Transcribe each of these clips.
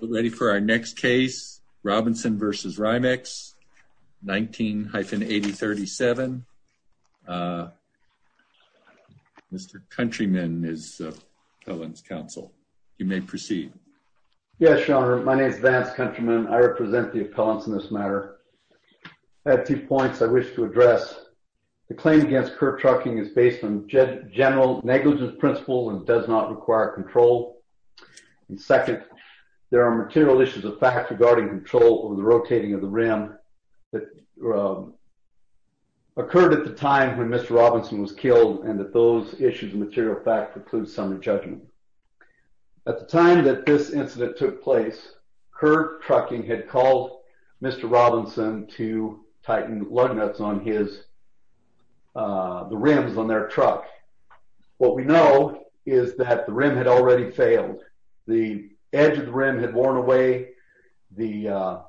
ready for our next case. Robinson versus Rimex 19 hyphen 80 37. Uh, Mr Countryman is Collins Council. You may proceed. Yes, Your Honor. My name is Vance Countryman. I represent the appellants in this matter. I have two points I wish to address. The claim against Kurt Trucking is based on general negligence principle and does not require control. And second, there are material issues of fact regarding control over the rotating of the rim that, uh, occurred at the time when Mr Robinson was killed and that those issues material fact includes some judgment. At the time that this incident took place, Kurt Trucking had called Mr Robinson to tighten lug nuts on his, uh, the rims on their truck. What we know is that the rim had already failed. The edge of the rim had worn away. The, uh,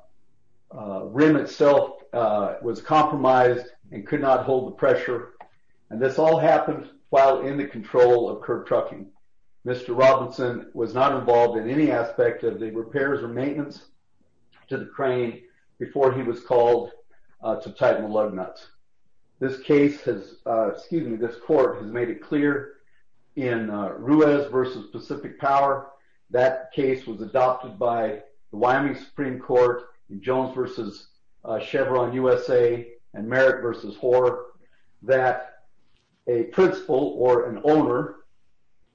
rim itself was compromised and could not hold the pressure. And this all happened while in the control of Kurt Trucking. Mr Robinson was not involved in any aspect of the repairs or maintenance to the crane before he was called to tighten lug nuts. This case has, excuse me, this court has made it clear in Ruiz versus Pacific Power that case was adopted by Wyoming Supreme Court, Jones versus Chevron U. S. A. And Merrick versus Hoare that a principal or an owner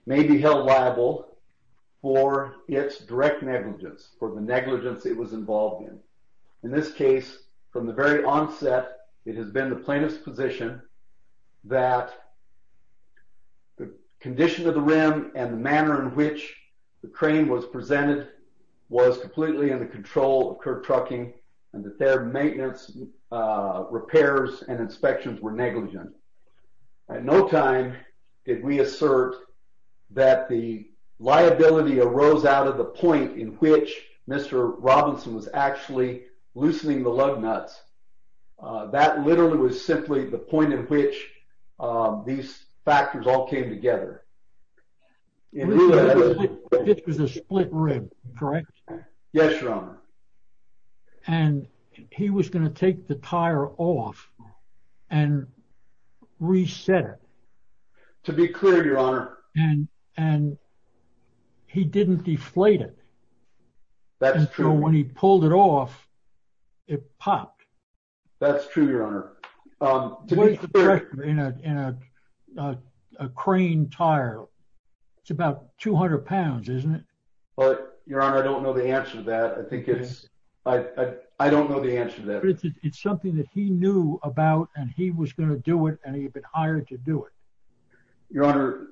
may be held liable for its direct negligence for the negligence it was involved in. In this case, from the very onset, it has been the plaintiff's position that the condition of the rim and the manner in which the crane was presented was completely in the control of Kurt Trucking and that their maintenance repairs and inspections were negligent. At no time did we assert that the lug nuts. Uh, that literally was simply the point in which, uh, these factors all came together. It was a split rib, correct? Yes, Your Honor. And he was going to take the tire off and reset it to be clear, Your Honor. And, and he didn't deflate it. That's true. When he pulled it off, it popped. That's true, Your Honor. Um, you know, in a crane tire, it's about £200, isn't it? But, Your Honor, I don't know the answer to that. I think it's I don't know the answer to that. It's something that he knew about, and he was going to do it, and he had been hired to do it. Your Honor,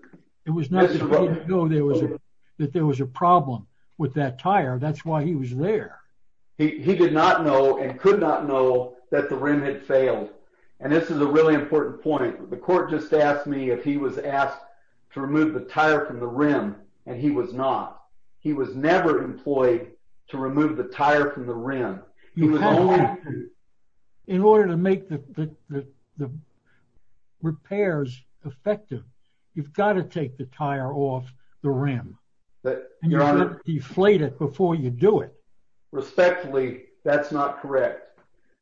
it was not that he didn't know that there was a problem with that tire. That's why he was there. He did not know and could not know that the rim had failed. And this is a really important point. The court just asked me if he was asked to remove the tire from the rim, and he was not. He was never employed to remove the tire from the rim. In order to make the repairs effective, you've got to take the tire off the rim, and you have to deflate it before you do it. Respectfully, that's not correct.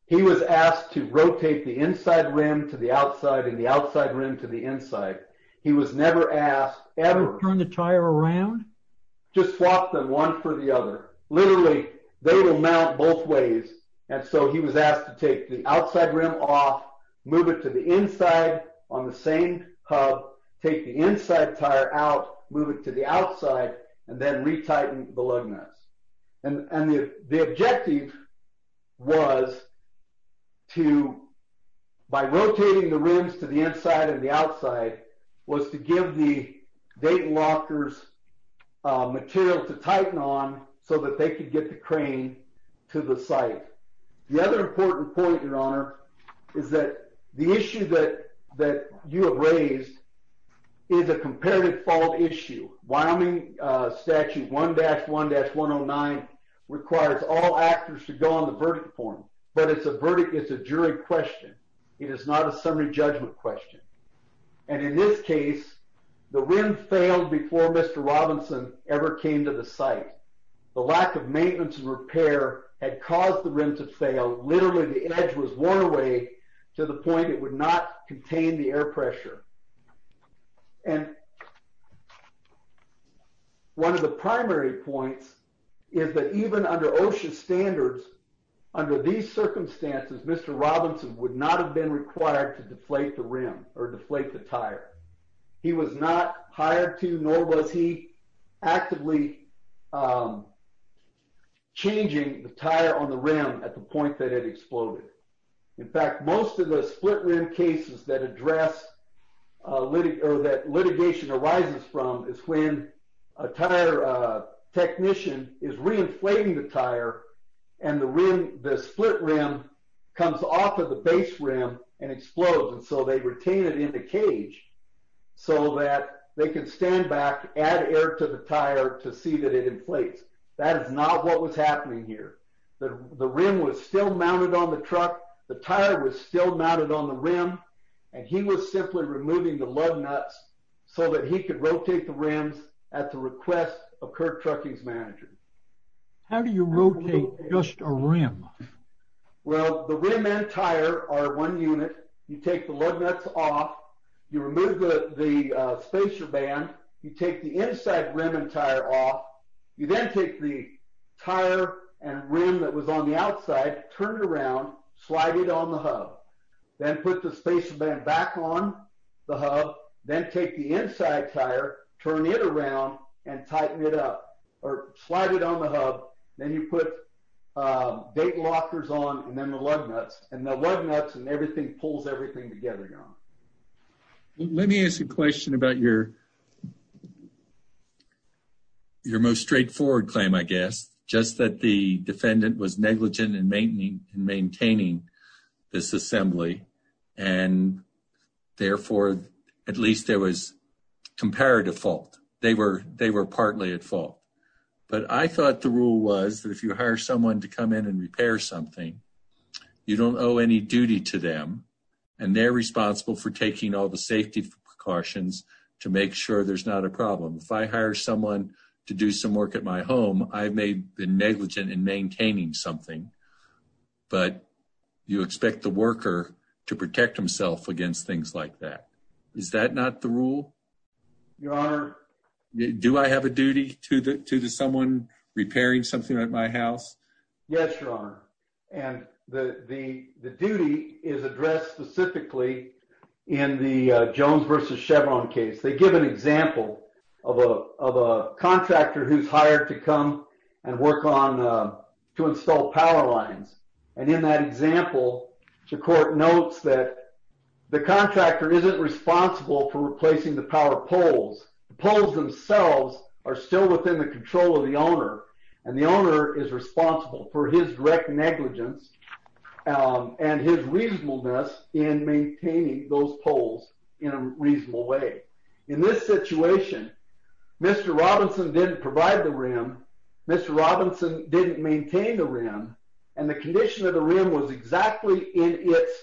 He was asked to rotate the inside rim to the outside and the outside rim to the inside. He was never asked ever to turn the tire around, just swap them one for the other. Literally, they will mount both ways. And so he was asked to take the outside rim off, move it to the inside on the same hub, take the inside tire out, move it to the outside, and then retighten the lug nuts. And the objective was to, by rotating the rims to the inside and the outside, to get the tire off the rim. So he was asked to rotate the rims to the outside, and he was asked to move the material to tighten on so that they could get the crane to the site. The other important point, Your Honor, is that the issue that that you have raised is a comparative fault issue. Wyoming Statute 1-1-109 requires all actors to go on the verdict form, but it's a jury question. It is not a summary judgment question. And in this case, the rim failed before Mr. Robinson ever came to the site. The lack of maintenance and repair had caused the rim to fail. Literally, the edge was worn away to the point it would not contain the air pressure. And one of the primary points is that even under OSHA standards, under these circumstances, Mr. Robinson would not have been required to deflate the rim or deflate the tire. He was not hired to, nor was he actively changing the tire on the rim at the point that it exploded. In fact, most of the split rim cases that litigation arises from is when a tire technician is reinflating the tire and the rim, the split rim comes off of the base rim and explodes. And so they retain it in the cage so that they can stand back, add air to the tire to see that it inflates. That is not what was happening here. The rim was still mounted on the truck, the tire was still mounted on the rim, and he was simply removing the lug nuts so that he could rotate the rims at the request of Kirk Trucking's manager. How do you rotate just a rim? Well, the rim and tire are one unit. You take the lug nuts off, you remove the spacer band, you take the inside rim and tire off, you then take the tire and rim that was on the outside, turn it around, slide it on the hub, then put the spacer band back on the hub, then take the inside tire, turn it around, and tighten it up, or slide it on the hub. Then you put date lockers on and then the lug nuts, and the lug nuts and everything pulls everything together now. Let me ask a question about your most straightforward claim, I guess, just that the defendant was negligent in maintaining this assembly, and therefore, at least there was comparative fault. They were partly at fault. But I thought the rule was that if you hire someone to come in and repair something, you don't owe any duty to them, and they're responsible for taking all the safety precautions to make sure there's not a problem. If I hire someone to do some work at my home, I may be negligent in maintaining something, but you expect the worker to protect himself against things like that. Is that not the rule? Your Honor... Do I have a duty to the someone repairing something at my house? Yes, Your Honor. And the duty is addressed specifically in the Jones v. Chevron case. They give an example of a contractor who's hired to come and work on, to install power lines. And in that example, the court notes that the contractor isn't responsible for replacing the power poles. The poles themselves are still within the control of the owner. And the owner is responsible for his direct negligence and his reasonableness in maintaining those poles in a reasonable way. In this situation, Mr. Robinson didn't provide the rim. Mr. Robinson didn't maintain the rim. And the condition of the rim was exactly in its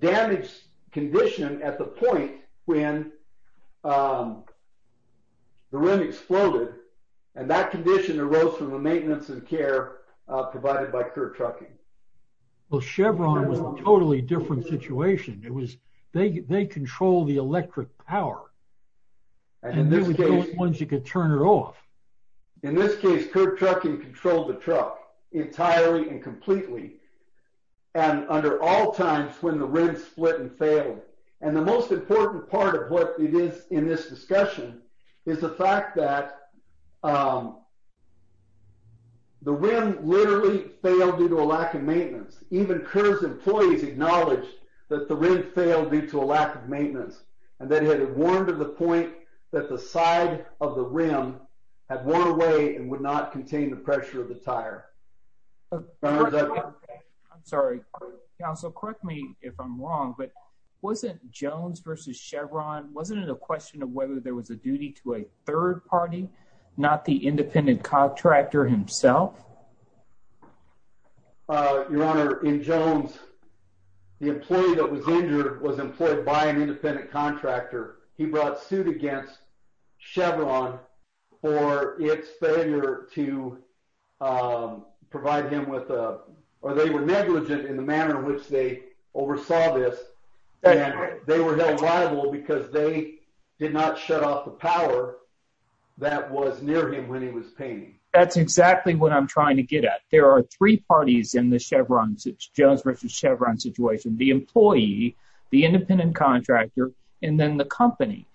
damaged condition at the point when the rim exploded. And that condition arose from the maintenance and care provided by Kirk Trucking. Well, Chevron was in a totally different situation. It was, they control the electric power. And in this case, Kirk Trucking controlled the truck entirely and completely and under all times when the rim split and failed. And the most important part of what it is in this discussion is the fact that um, the rim literally failed due to a lack of maintenance. Even Kerr's employees acknowledged that the rim failed due to a lack of maintenance and that it had worn to the point that the side of the rim had worn away and would not contain the pressure of the tire. I'm sorry, Council. Correct me if I'm wrong, but wasn't Jones versus Chevron, wasn't it a question of whether there was a duty to a third party, not the independent contractor himself? Your Honor, in Jones, the employee that was injured was employed by an independent contractor. He brought suit against Chevron for its failure to provide him with, or they were negligent in the manner in which they oversaw this. They were held liable because they did not shut off the power that was near him when he was painting. That's exactly what I'm trying to get at. There are three parties in the Jones versus Chevron situation, the employee, the independent contractor, and then the company.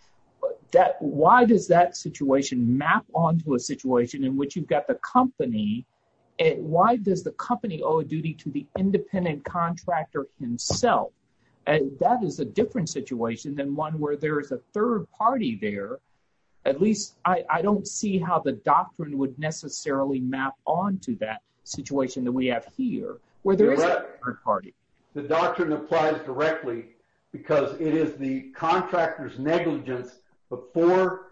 Why does that situation map onto a situation in which you've got the company, and why does the company owe a And that is a different situation than one where there is a third party there. At least, I don't see how the doctrine would necessarily map onto that situation that we have here, where there is a third party. The doctrine applies directly because it is the contractor's negligence before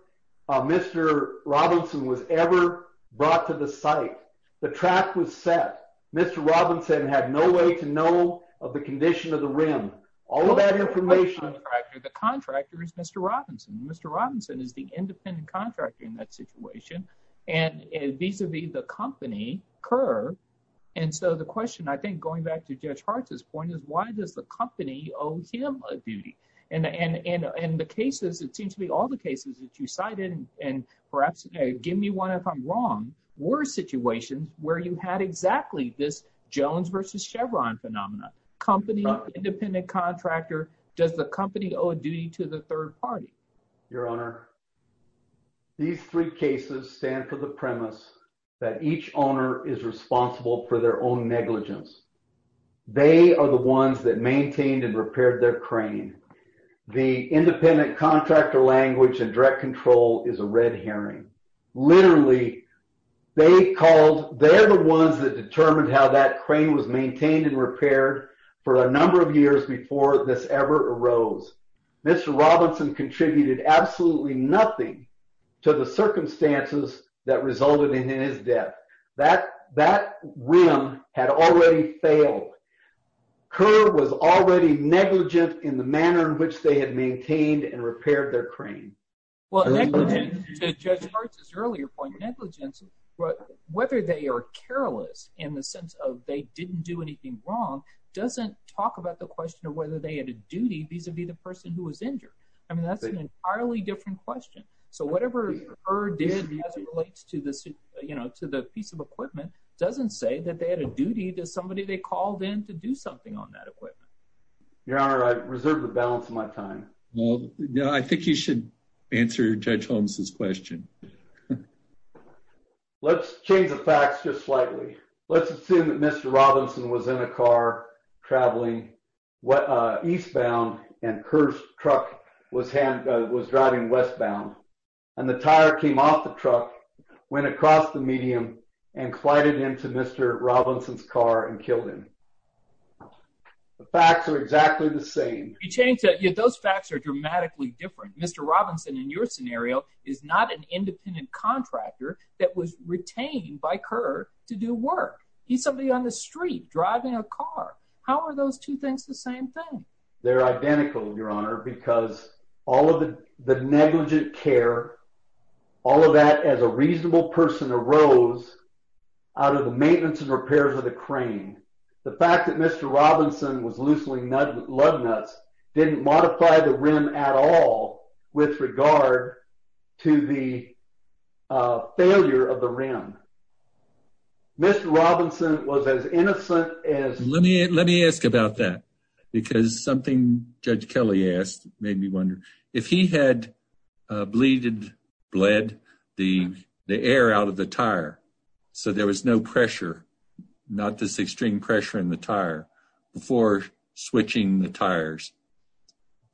Mr. Robinson was ever brought to the site. The track was set. Mr. Robinson had no way to know of the condition of the rim. All of that information. The contractor is Mr. Robinson. Mr. Robinson is the independent contractor in that situation, and vis-a-vis the company curve. And so the question, I think, going back to Judge Hart's point is, why does the company owe him a duty? In the cases, it seems to be all the cases that you cited, and perhaps give me one if I'm wrong, were situations where you had exactly this Jones versus Chevron phenomenon. Company, independent contractor, does the company owe a duty to the third party? Your Honor, these three cases stand for the premise that each owner is responsible for their own negligence. They are the ones that maintained and repaired their crane. The independent contractor language and direct control is a red herring. Literally, they're the ones that determined how that crane was maintained and repaired for a number of years before this ever arose. Mr. Robinson contributed absolutely nothing to the circumstances that resulted in his death. That rim had already failed. Curve was already negligent in the manner in which they had maintained and repaired their crane. Well, negligence, to Judge Hart's earlier point, negligence, whether they are careless in the sense of they didn't do anything wrong, doesn't talk about the question of whether they had a duty vis-a-vis the person who was injured. I mean, that's an entirely different question. So whatever her did as it relates to the piece of equipment doesn't say that they had a duty to somebody they called in to do something on that equipment. Your Honor, I reserve the balance of my time. I think you should answer Judge Holmes's question. Let's change the facts just slightly. Let's assume that Mr. Robinson was in a car traveling eastbound and her truck was driving westbound, and the tire came off the truck, went across the medium, and collided into Mr. Robinson's car and killed him. The facts are exactly the same. You changed it. Those facts are dramatically different. Mr. Robinson, in your scenario, is not an independent contractor that was retained by Curve to do work. He's somebody on the street driving a car. How are those two things the same thing? They're identical, Your Honor, because all of the negligent care, all of that as a reasonable person arose out of the maintenance and repairs of the crane. The fact that Mr. Robinson was loosening lug nuts didn't modify the rim at all with regard to the failure of the rim. Mr. Robinson was as innocent as... Let me ask about that because something Judge Kelly asked made me wonder. If he had bled the air out of the tire so there was no pressure, not this extreme pressure in the tire, before switching the tires,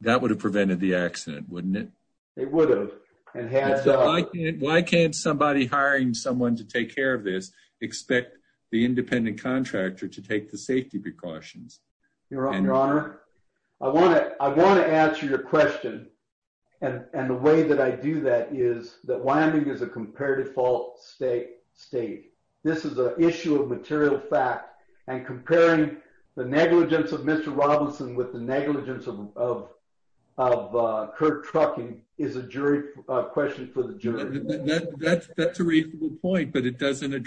that would have prevented the accident, wouldn't it? It would have. Why can't somebody hiring someone to take care of this expect the independent contractor to take the safety precautions? Your Honor, I want to answer your question, and the way that I do that is that Wyoming is a compare-default state. This is an issue of material fact, and comparing the negligence of Mr. Robinson with the negligence of Kurt Trucking is a question for the jury. That's a reasonable point, but it doesn't have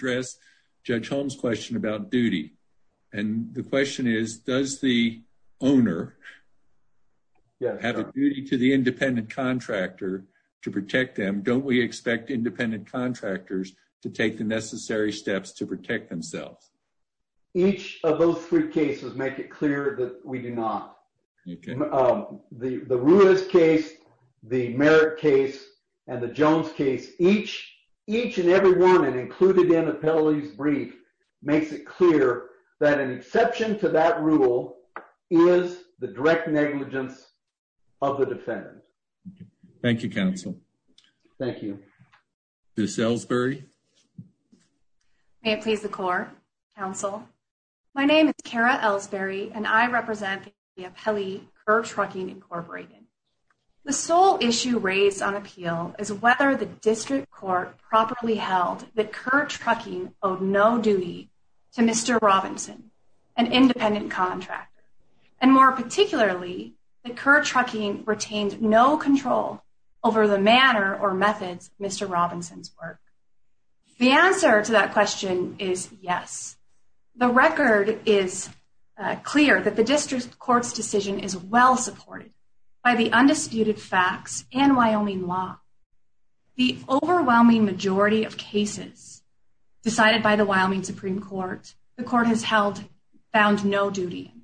a duty to the independent contractor to protect them. Don't we expect independent contractors to take the necessary steps to protect themselves? Each of those three cases make it clear that we do not. The Ruiz case, the Merritt case, and the Jones case, each and every one included in rule is the direct negligence of the defendant. Thank you, counsel. Thank you. Ms. Ellsbury. May it please the court, counsel. My name is Kara Ellsbury, and I represent the appellee Kurt Trucking, Incorporated. The sole issue raised on appeal is whether the district court properly held that Kurt Trucking owed no duty to Mr. Robinson, an independent contractor, and more particularly that Kurt Trucking retained no control over the manner or methods of Mr. Robinson's work. The answer to that question is yes. The record is clear that the district court's decision is well supported by the undisputed facts and Wyoming law. The overwhelming majority of cases decided by the Wyoming Supreme Court, the court has found no duty,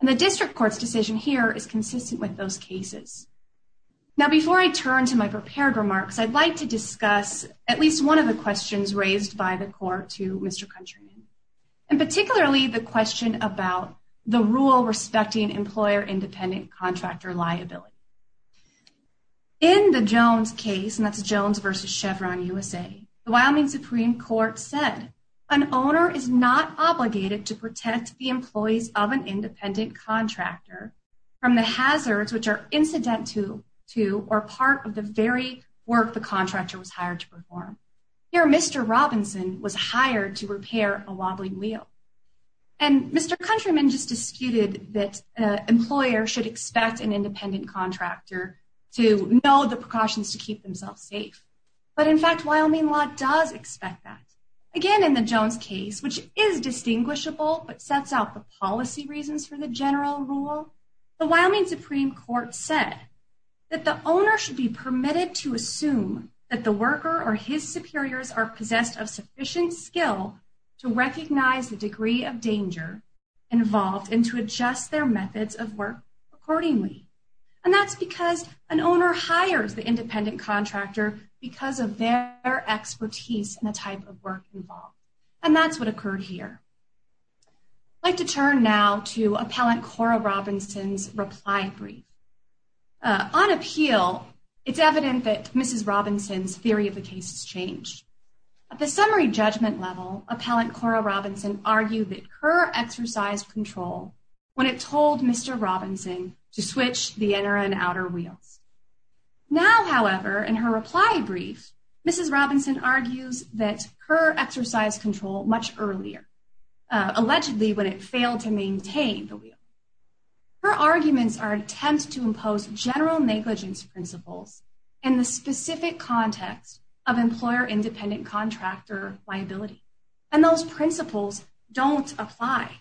and the district court's decision here is consistent with those cases. Now, before I turn to my prepared remarks, I'd like to discuss at least one of the questions raised by the court to Mr. Countryman, and particularly the question about the rule respecting employer-independent contractor liability. In the Jones case, and that's Jones versus Chevron USA, the Wyoming Supreme Court said an owner is not obligated to protect the employees of an independent contractor from the hazards which are incident to or part of the very work the contractor was hired to perform. Here, Mr. Robinson was hired to repair a wobbling wheel, and Mr. Countryman just disputed that an independent contractor to know the precautions to keep themselves safe. But in fact, Wyoming law does expect that. Again, in the Jones case, which is distinguishable, but sets out the policy reasons for the general rule, the Wyoming Supreme Court said that the owner should be permitted to assume that the worker or his superiors are possessed of sufficient skill to recognize the degree of danger involved and to adjust their methods of work accordingly. And that's because an owner hires the independent contractor because of their expertise and the type of work involved. And that's what occurred here. I'd like to turn now to Appellant Cora Robinson's reply brief. On appeal, it's evident that Mrs. Robinson's theory of the case has changed. At the summary judgment level, Appellant Cora Robinson argued that her exercised control when it told Mr. Robinson to switch the inner and outer wheels. Now, however, in her reply brief, Mrs. Robinson argues that her exercised control much earlier, allegedly when it failed to maintain the wheel. Her arguments are an attempt to impose general negligence principles in the specific context of employer-independent contractor liability. And those principles don't apply.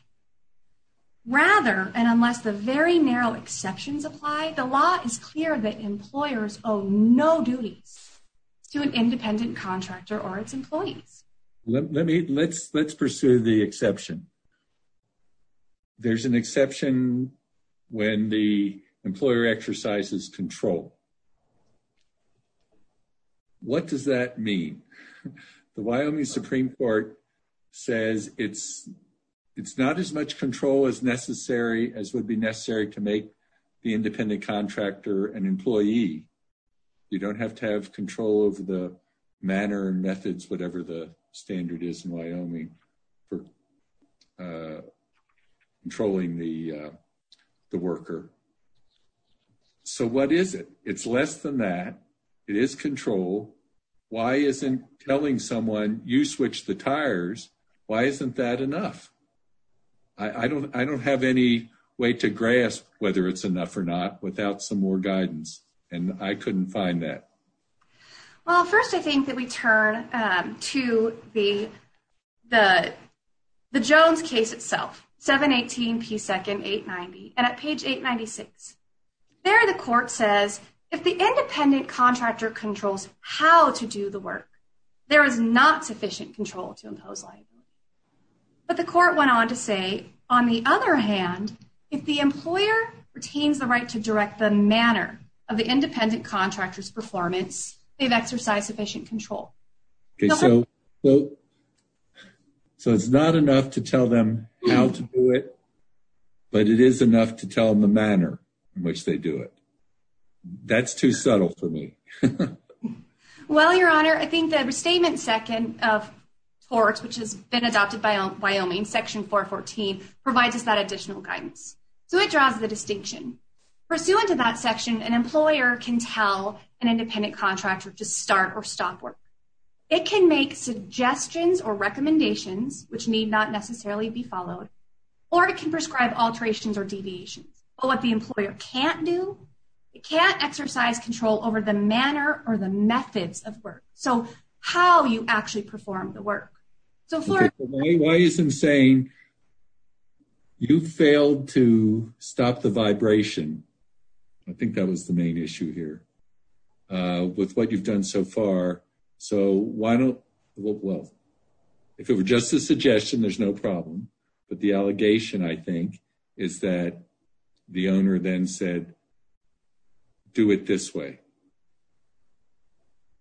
Rather, and unless the very narrow exceptions apply, the law is clear that employers owe no duties to an independent contractor or its employees. Let me, let's pursue the exception. There's an exception when the employer exercises control. What does that mean? The Wyoming Supreme Court says it's, it's not as much control as necessary as would be necessary to make the independent contractor an employee. You don't have to have control over the manner and methods, whatever the standard is in Wyoming for it. It's less than that. It is control. Why isn't telling someone you switch the tires? Why isn't that enough? I don't, I don't have any way to grasp whether it's enough or not without some more guidance. And I couldn't find that. Well, first I think that we turn to the, the, the Jones case itself, 718 P. 2nd, 890. And at page 896, there the court says, if the independent contractor controls how to do the work, there is not sufficient control to impose liability. But the court went on to say, on the other hand, if the employer retains the right to direct the manner of the independent contractor's performance, they've exercised sufficient control. Okay. So, so, so it's not enough to tell them how to do it, but it is enough to tell them the manner in which they do it. That's too subtle for me. Well, your honor, I think that restatement second of torts, which has been adopted by Wyoming section 414 provides us that additional guidance. So it draws the distinction pursuant to that section. An employer can tell an independent contractor to start or stop work. It can make suggestions or recommendations, which need not necessarily be followed, or it can prescribe alterations or deviations, but what the employer can't do, it can't exercise control over the manner or the methods of work. So how you actually perform the work. So why isn't saying you failed to issue here with what you've done so far? So why don't, well, if it were just a suggestion, there's no problem. But the allegation I think is that the owner then said, do it this way.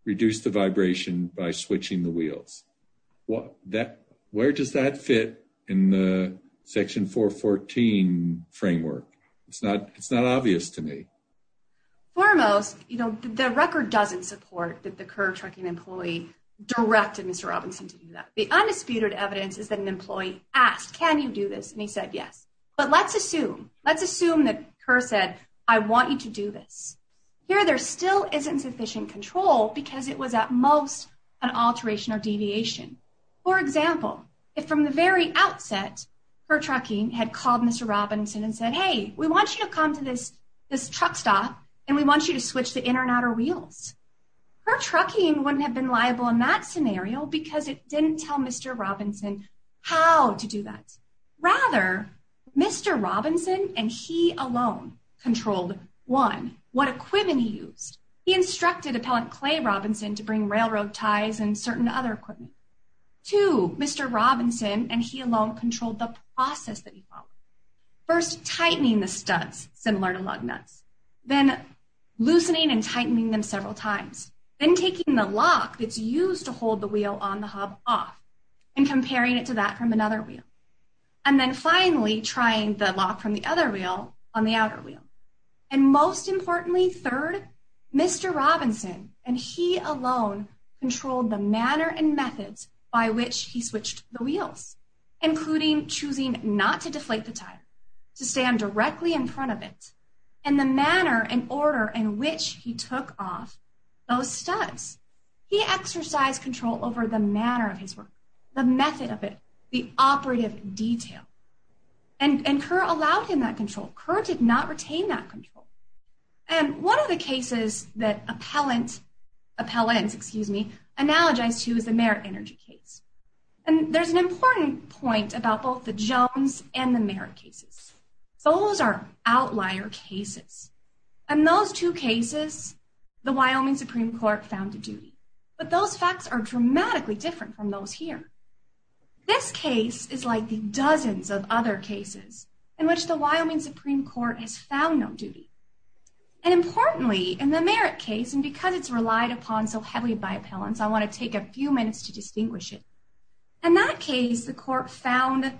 Reduce the vibration by switching the wheels. What that, where does that fit in the section 414 framework? It's not, it's not obvious to me. Foremost, you know, the record doesn't support that the current trucking employee directed Mr. Robinson to do that. The undisputed evidence is that an employee asked, can you do this? And he said, yes, but let's assume, let's assume that her said, I want you to do this here. There still isn't sufficient control because it was at most an alteration or deviation. For example, if from the very outset, her trucking had called Mr. Robinson and said, Hey, we want you to come to this, this truck stop, and we want you to switch the inner and outer wheels. Her trucking wouldn't have been liable in that scenario because it didn't tell Mr. Robinson how to do that. Rather Mr. Robinson and he alone controlled one, what and certain other equipment. Two, Mr. Robinson and he alone controlled the process that he followed. First tightening the studs, similar to lug nuts, then loosening and tightening them several times, then taking the lock that's used to hold the wheel on the hub off and comparing it to that from another wheel. And then finally trying the lock from the other wheel on the outer wheel. And most importantly, third, Mr. Robinson and he alone controlled the manner and methods by which he switched the wheels, including choosing not to deflate the tire, to stand directly in front of it and the manner and order in which he took off those studs. He exercised control over the manner of his work, the method of it, the operative detail. And Kerr allowed him that control. Kerr did not retain that control. And one of the cases that Appellant, Appellants, excuse me, analogized to is the Merit Energy case. And there's an important point about both the Jones and the Merit cases. Those are outlier cases. And those two cases, the Wyoming Supreme Court found a duty. But those facts are dramatically different from those here. This case is like the dozens of other cases in which the Wyoming Supreme Court has found no duty. And importantly, in the Merit case, and because it's relied upon so heavily by Appellants, I want to take a few minutes to distinguish it. In that case, the court found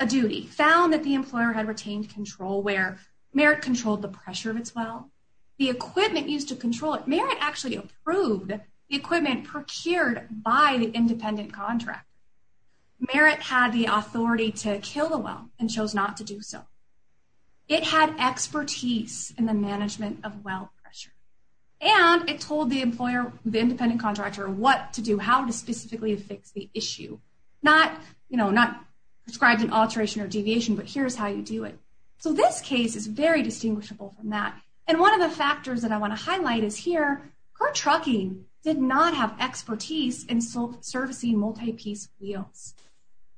a duty, found that the employer had retained control where Merit controlled the pressure of its well, the equipment used to control it. Merit actually approved the equipment procured by the independent contract. Merit had the authority to kill the and chose not to do so. It had expertise in the management of well pressure. And it told the employer, the independent contractor, what to do, how to specifically fix the issue. Not, you know, not prescribed an alteration or deviation, but here's how you do it. So this case is very distinguishable from that. And one of the factors that I want to highlight is here, Kerr Trucking did not have expertise in servicing multi-piece wheels.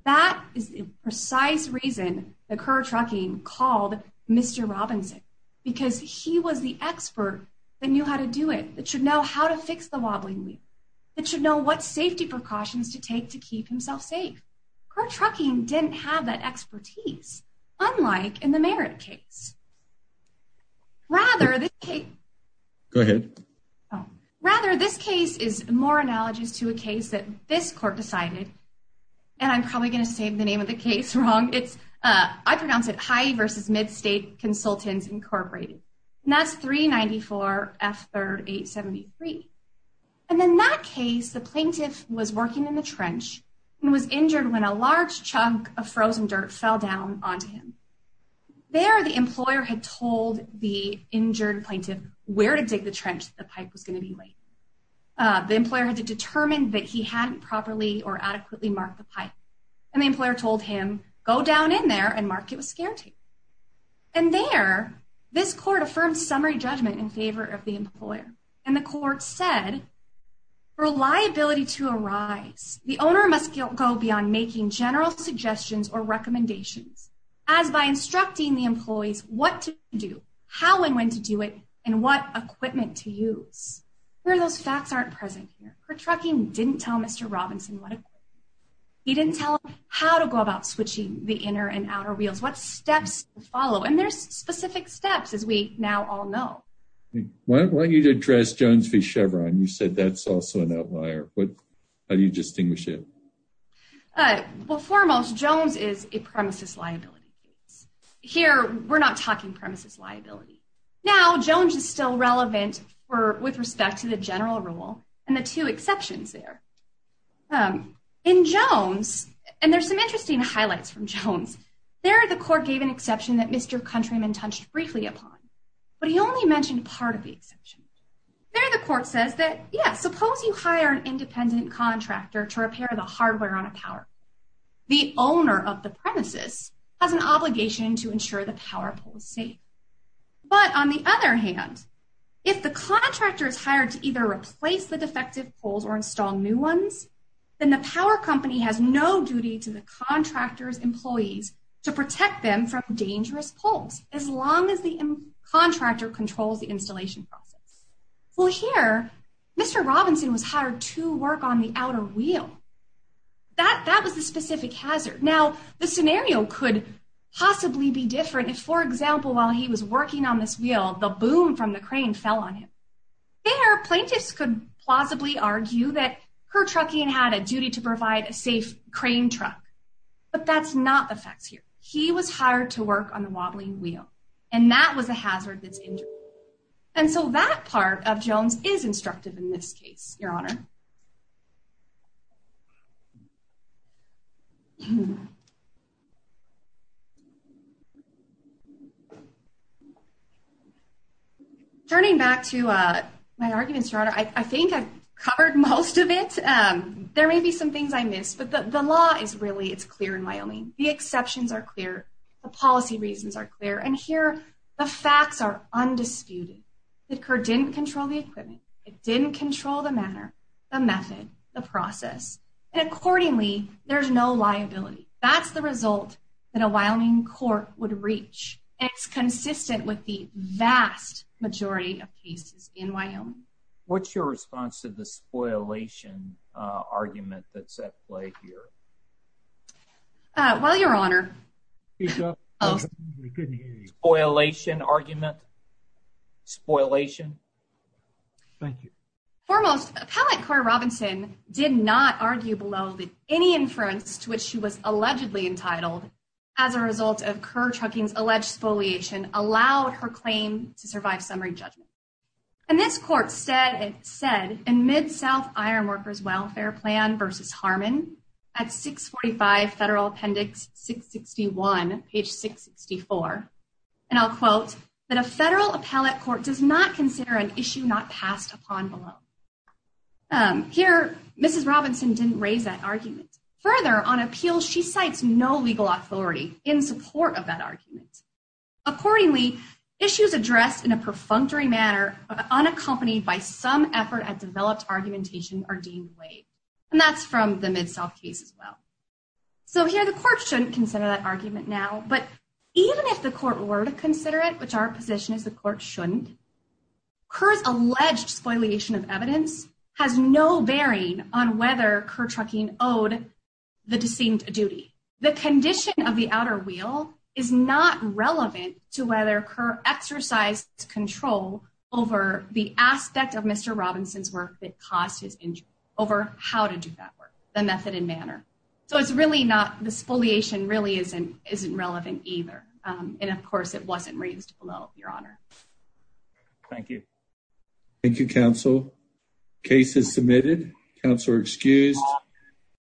That is the precise reason that Kerr Trucking called Mr. Robinson, because he was the expert that knew how to do it, that should know how to fix the wobbling wheel, that should know what safety precautions to take to keep himself safe. Kerr Trucking didn't have that expertise, unlike in the Merit case. Go ahead. Rather, this case is more analogous to a case that this court decided, and I'm probably going to say the name of the case wrong. It's, I pronounce it, Hyde versus Midstate Consultants Incorporated, and that's 394 F3rd 873. And in that case, the plaintiff was working in the trench and was injured when a large chunk of frozen dirt fell onto him. There, the employer had told the injured plaintiff where to dig the trench the pipe was going to be laid. The employer had to determine that he hadn't properly or adequately marked the pipe. And the employer told him, go down in there and mark it with scare tape. And there, this court affirmed summary judgment in favor of the employer. And the court said, for a liability to arise, the owner must go beyond making general suggestions or recommendations, as by instructing the employees what to do, how and when to do it, and what equipment to use. Where those facts aren't present here. Kerr Trucking didn't tell Mr. Robinson what equipment. He didn't tell him how to go about switching the inner and outer wheels, what steps to follow. And there's specific steps, as we now all know. Why don't you address Jones v. Chevron? You said that's also an outlier. How do you distinguish it? Well, foremost, Jones is a premises liability case. Here, we're not talking premises liability. Now, Jones is still relevant for with respect to the general rule and the two exceptions there. In Jones, and there's some interesting highlights from Jones. There, the court gave an exception that Mr. Countryman touched briefly upon. But he only mentioned part of the exception. There, the court says that, yeah, suppose you hire an independent contractor to repair the hardware on a power. The owner of the premises has an obligation to ensure the power pole is safe. But on the other hand, if the contractor is hired to either replace the defective poles or install new ones, then the power company has no duty to the contractor's employees to protect them from dangerous poles, as long as the contractor controls the installation process. Well, here, Mr. Robinson was hired to work on the outer wheel. That was the specific hazard. Now, the scenario could possibly be different if, for example, while he was working on this wheel, the boom from the crane fell on him. There, plaintiffs could plausibly argue that her trucking had a duty to provide a safe crane truck. But that's not the facts here. He was hired to work on the wobbling wheel, and that was a hazard that's injured. And so that part of Jones is instructive in this case, Your Honor. Turning back to my argument, Your Honor, I think I've covered most of it. There may be some things I missed, but the law is really, it's clear in Wyoming. The exceptions are clear. The policy reasons are clear. And here, the facts are undisputed. The court didn't control the equipment. It didn't control the matter, the method, the process. And accordingly, there's no liability. That's the result that a Wyoming court would reach. It's consistent with the vast majority of cases in Wyoming. What's your response to the spoilation argument that's at play here? Well, Your Honor. We couldn't hear you. Spoilation argument? Spoilation? Thank you. Foremost, Appellant Cori Robinson did not argue below that any inference to which she was allegedly entitled as a result of Kerr Trucking's alleged spoliation allowed her claim to survive summary judgment. And this court said in Mid-South Ironworkers Welfare Plan v. Harmon at 645 Federal Appendix 661, page 664, and I'll quote, that a federal appellate court does not consider an issue not passed upon below. Here, Mrs. Robinson didn't raise that argument. Further, on appeal, she cites no of unaccompanied by some effort at developed argumentation are deemed late. And that's from the Mid-South case as well. So here, the court shouldn't consider that argument now. But even if the court were to consider it, which our position is the court shouldn't, Kerr's alleged spoliation of evidence has no bearing on whether Kerr Trucking owed the deceived a duty. The condition of the over the aspect of Mr. Robinson's work that caused his injury over how to do that work, the method and manner. So it's really not, the spoliation really isn't relevant either. And of course, it wasn't raised below, Your Honor. Thank you. Thank you, counsel. Case is submitted. Counselor excused.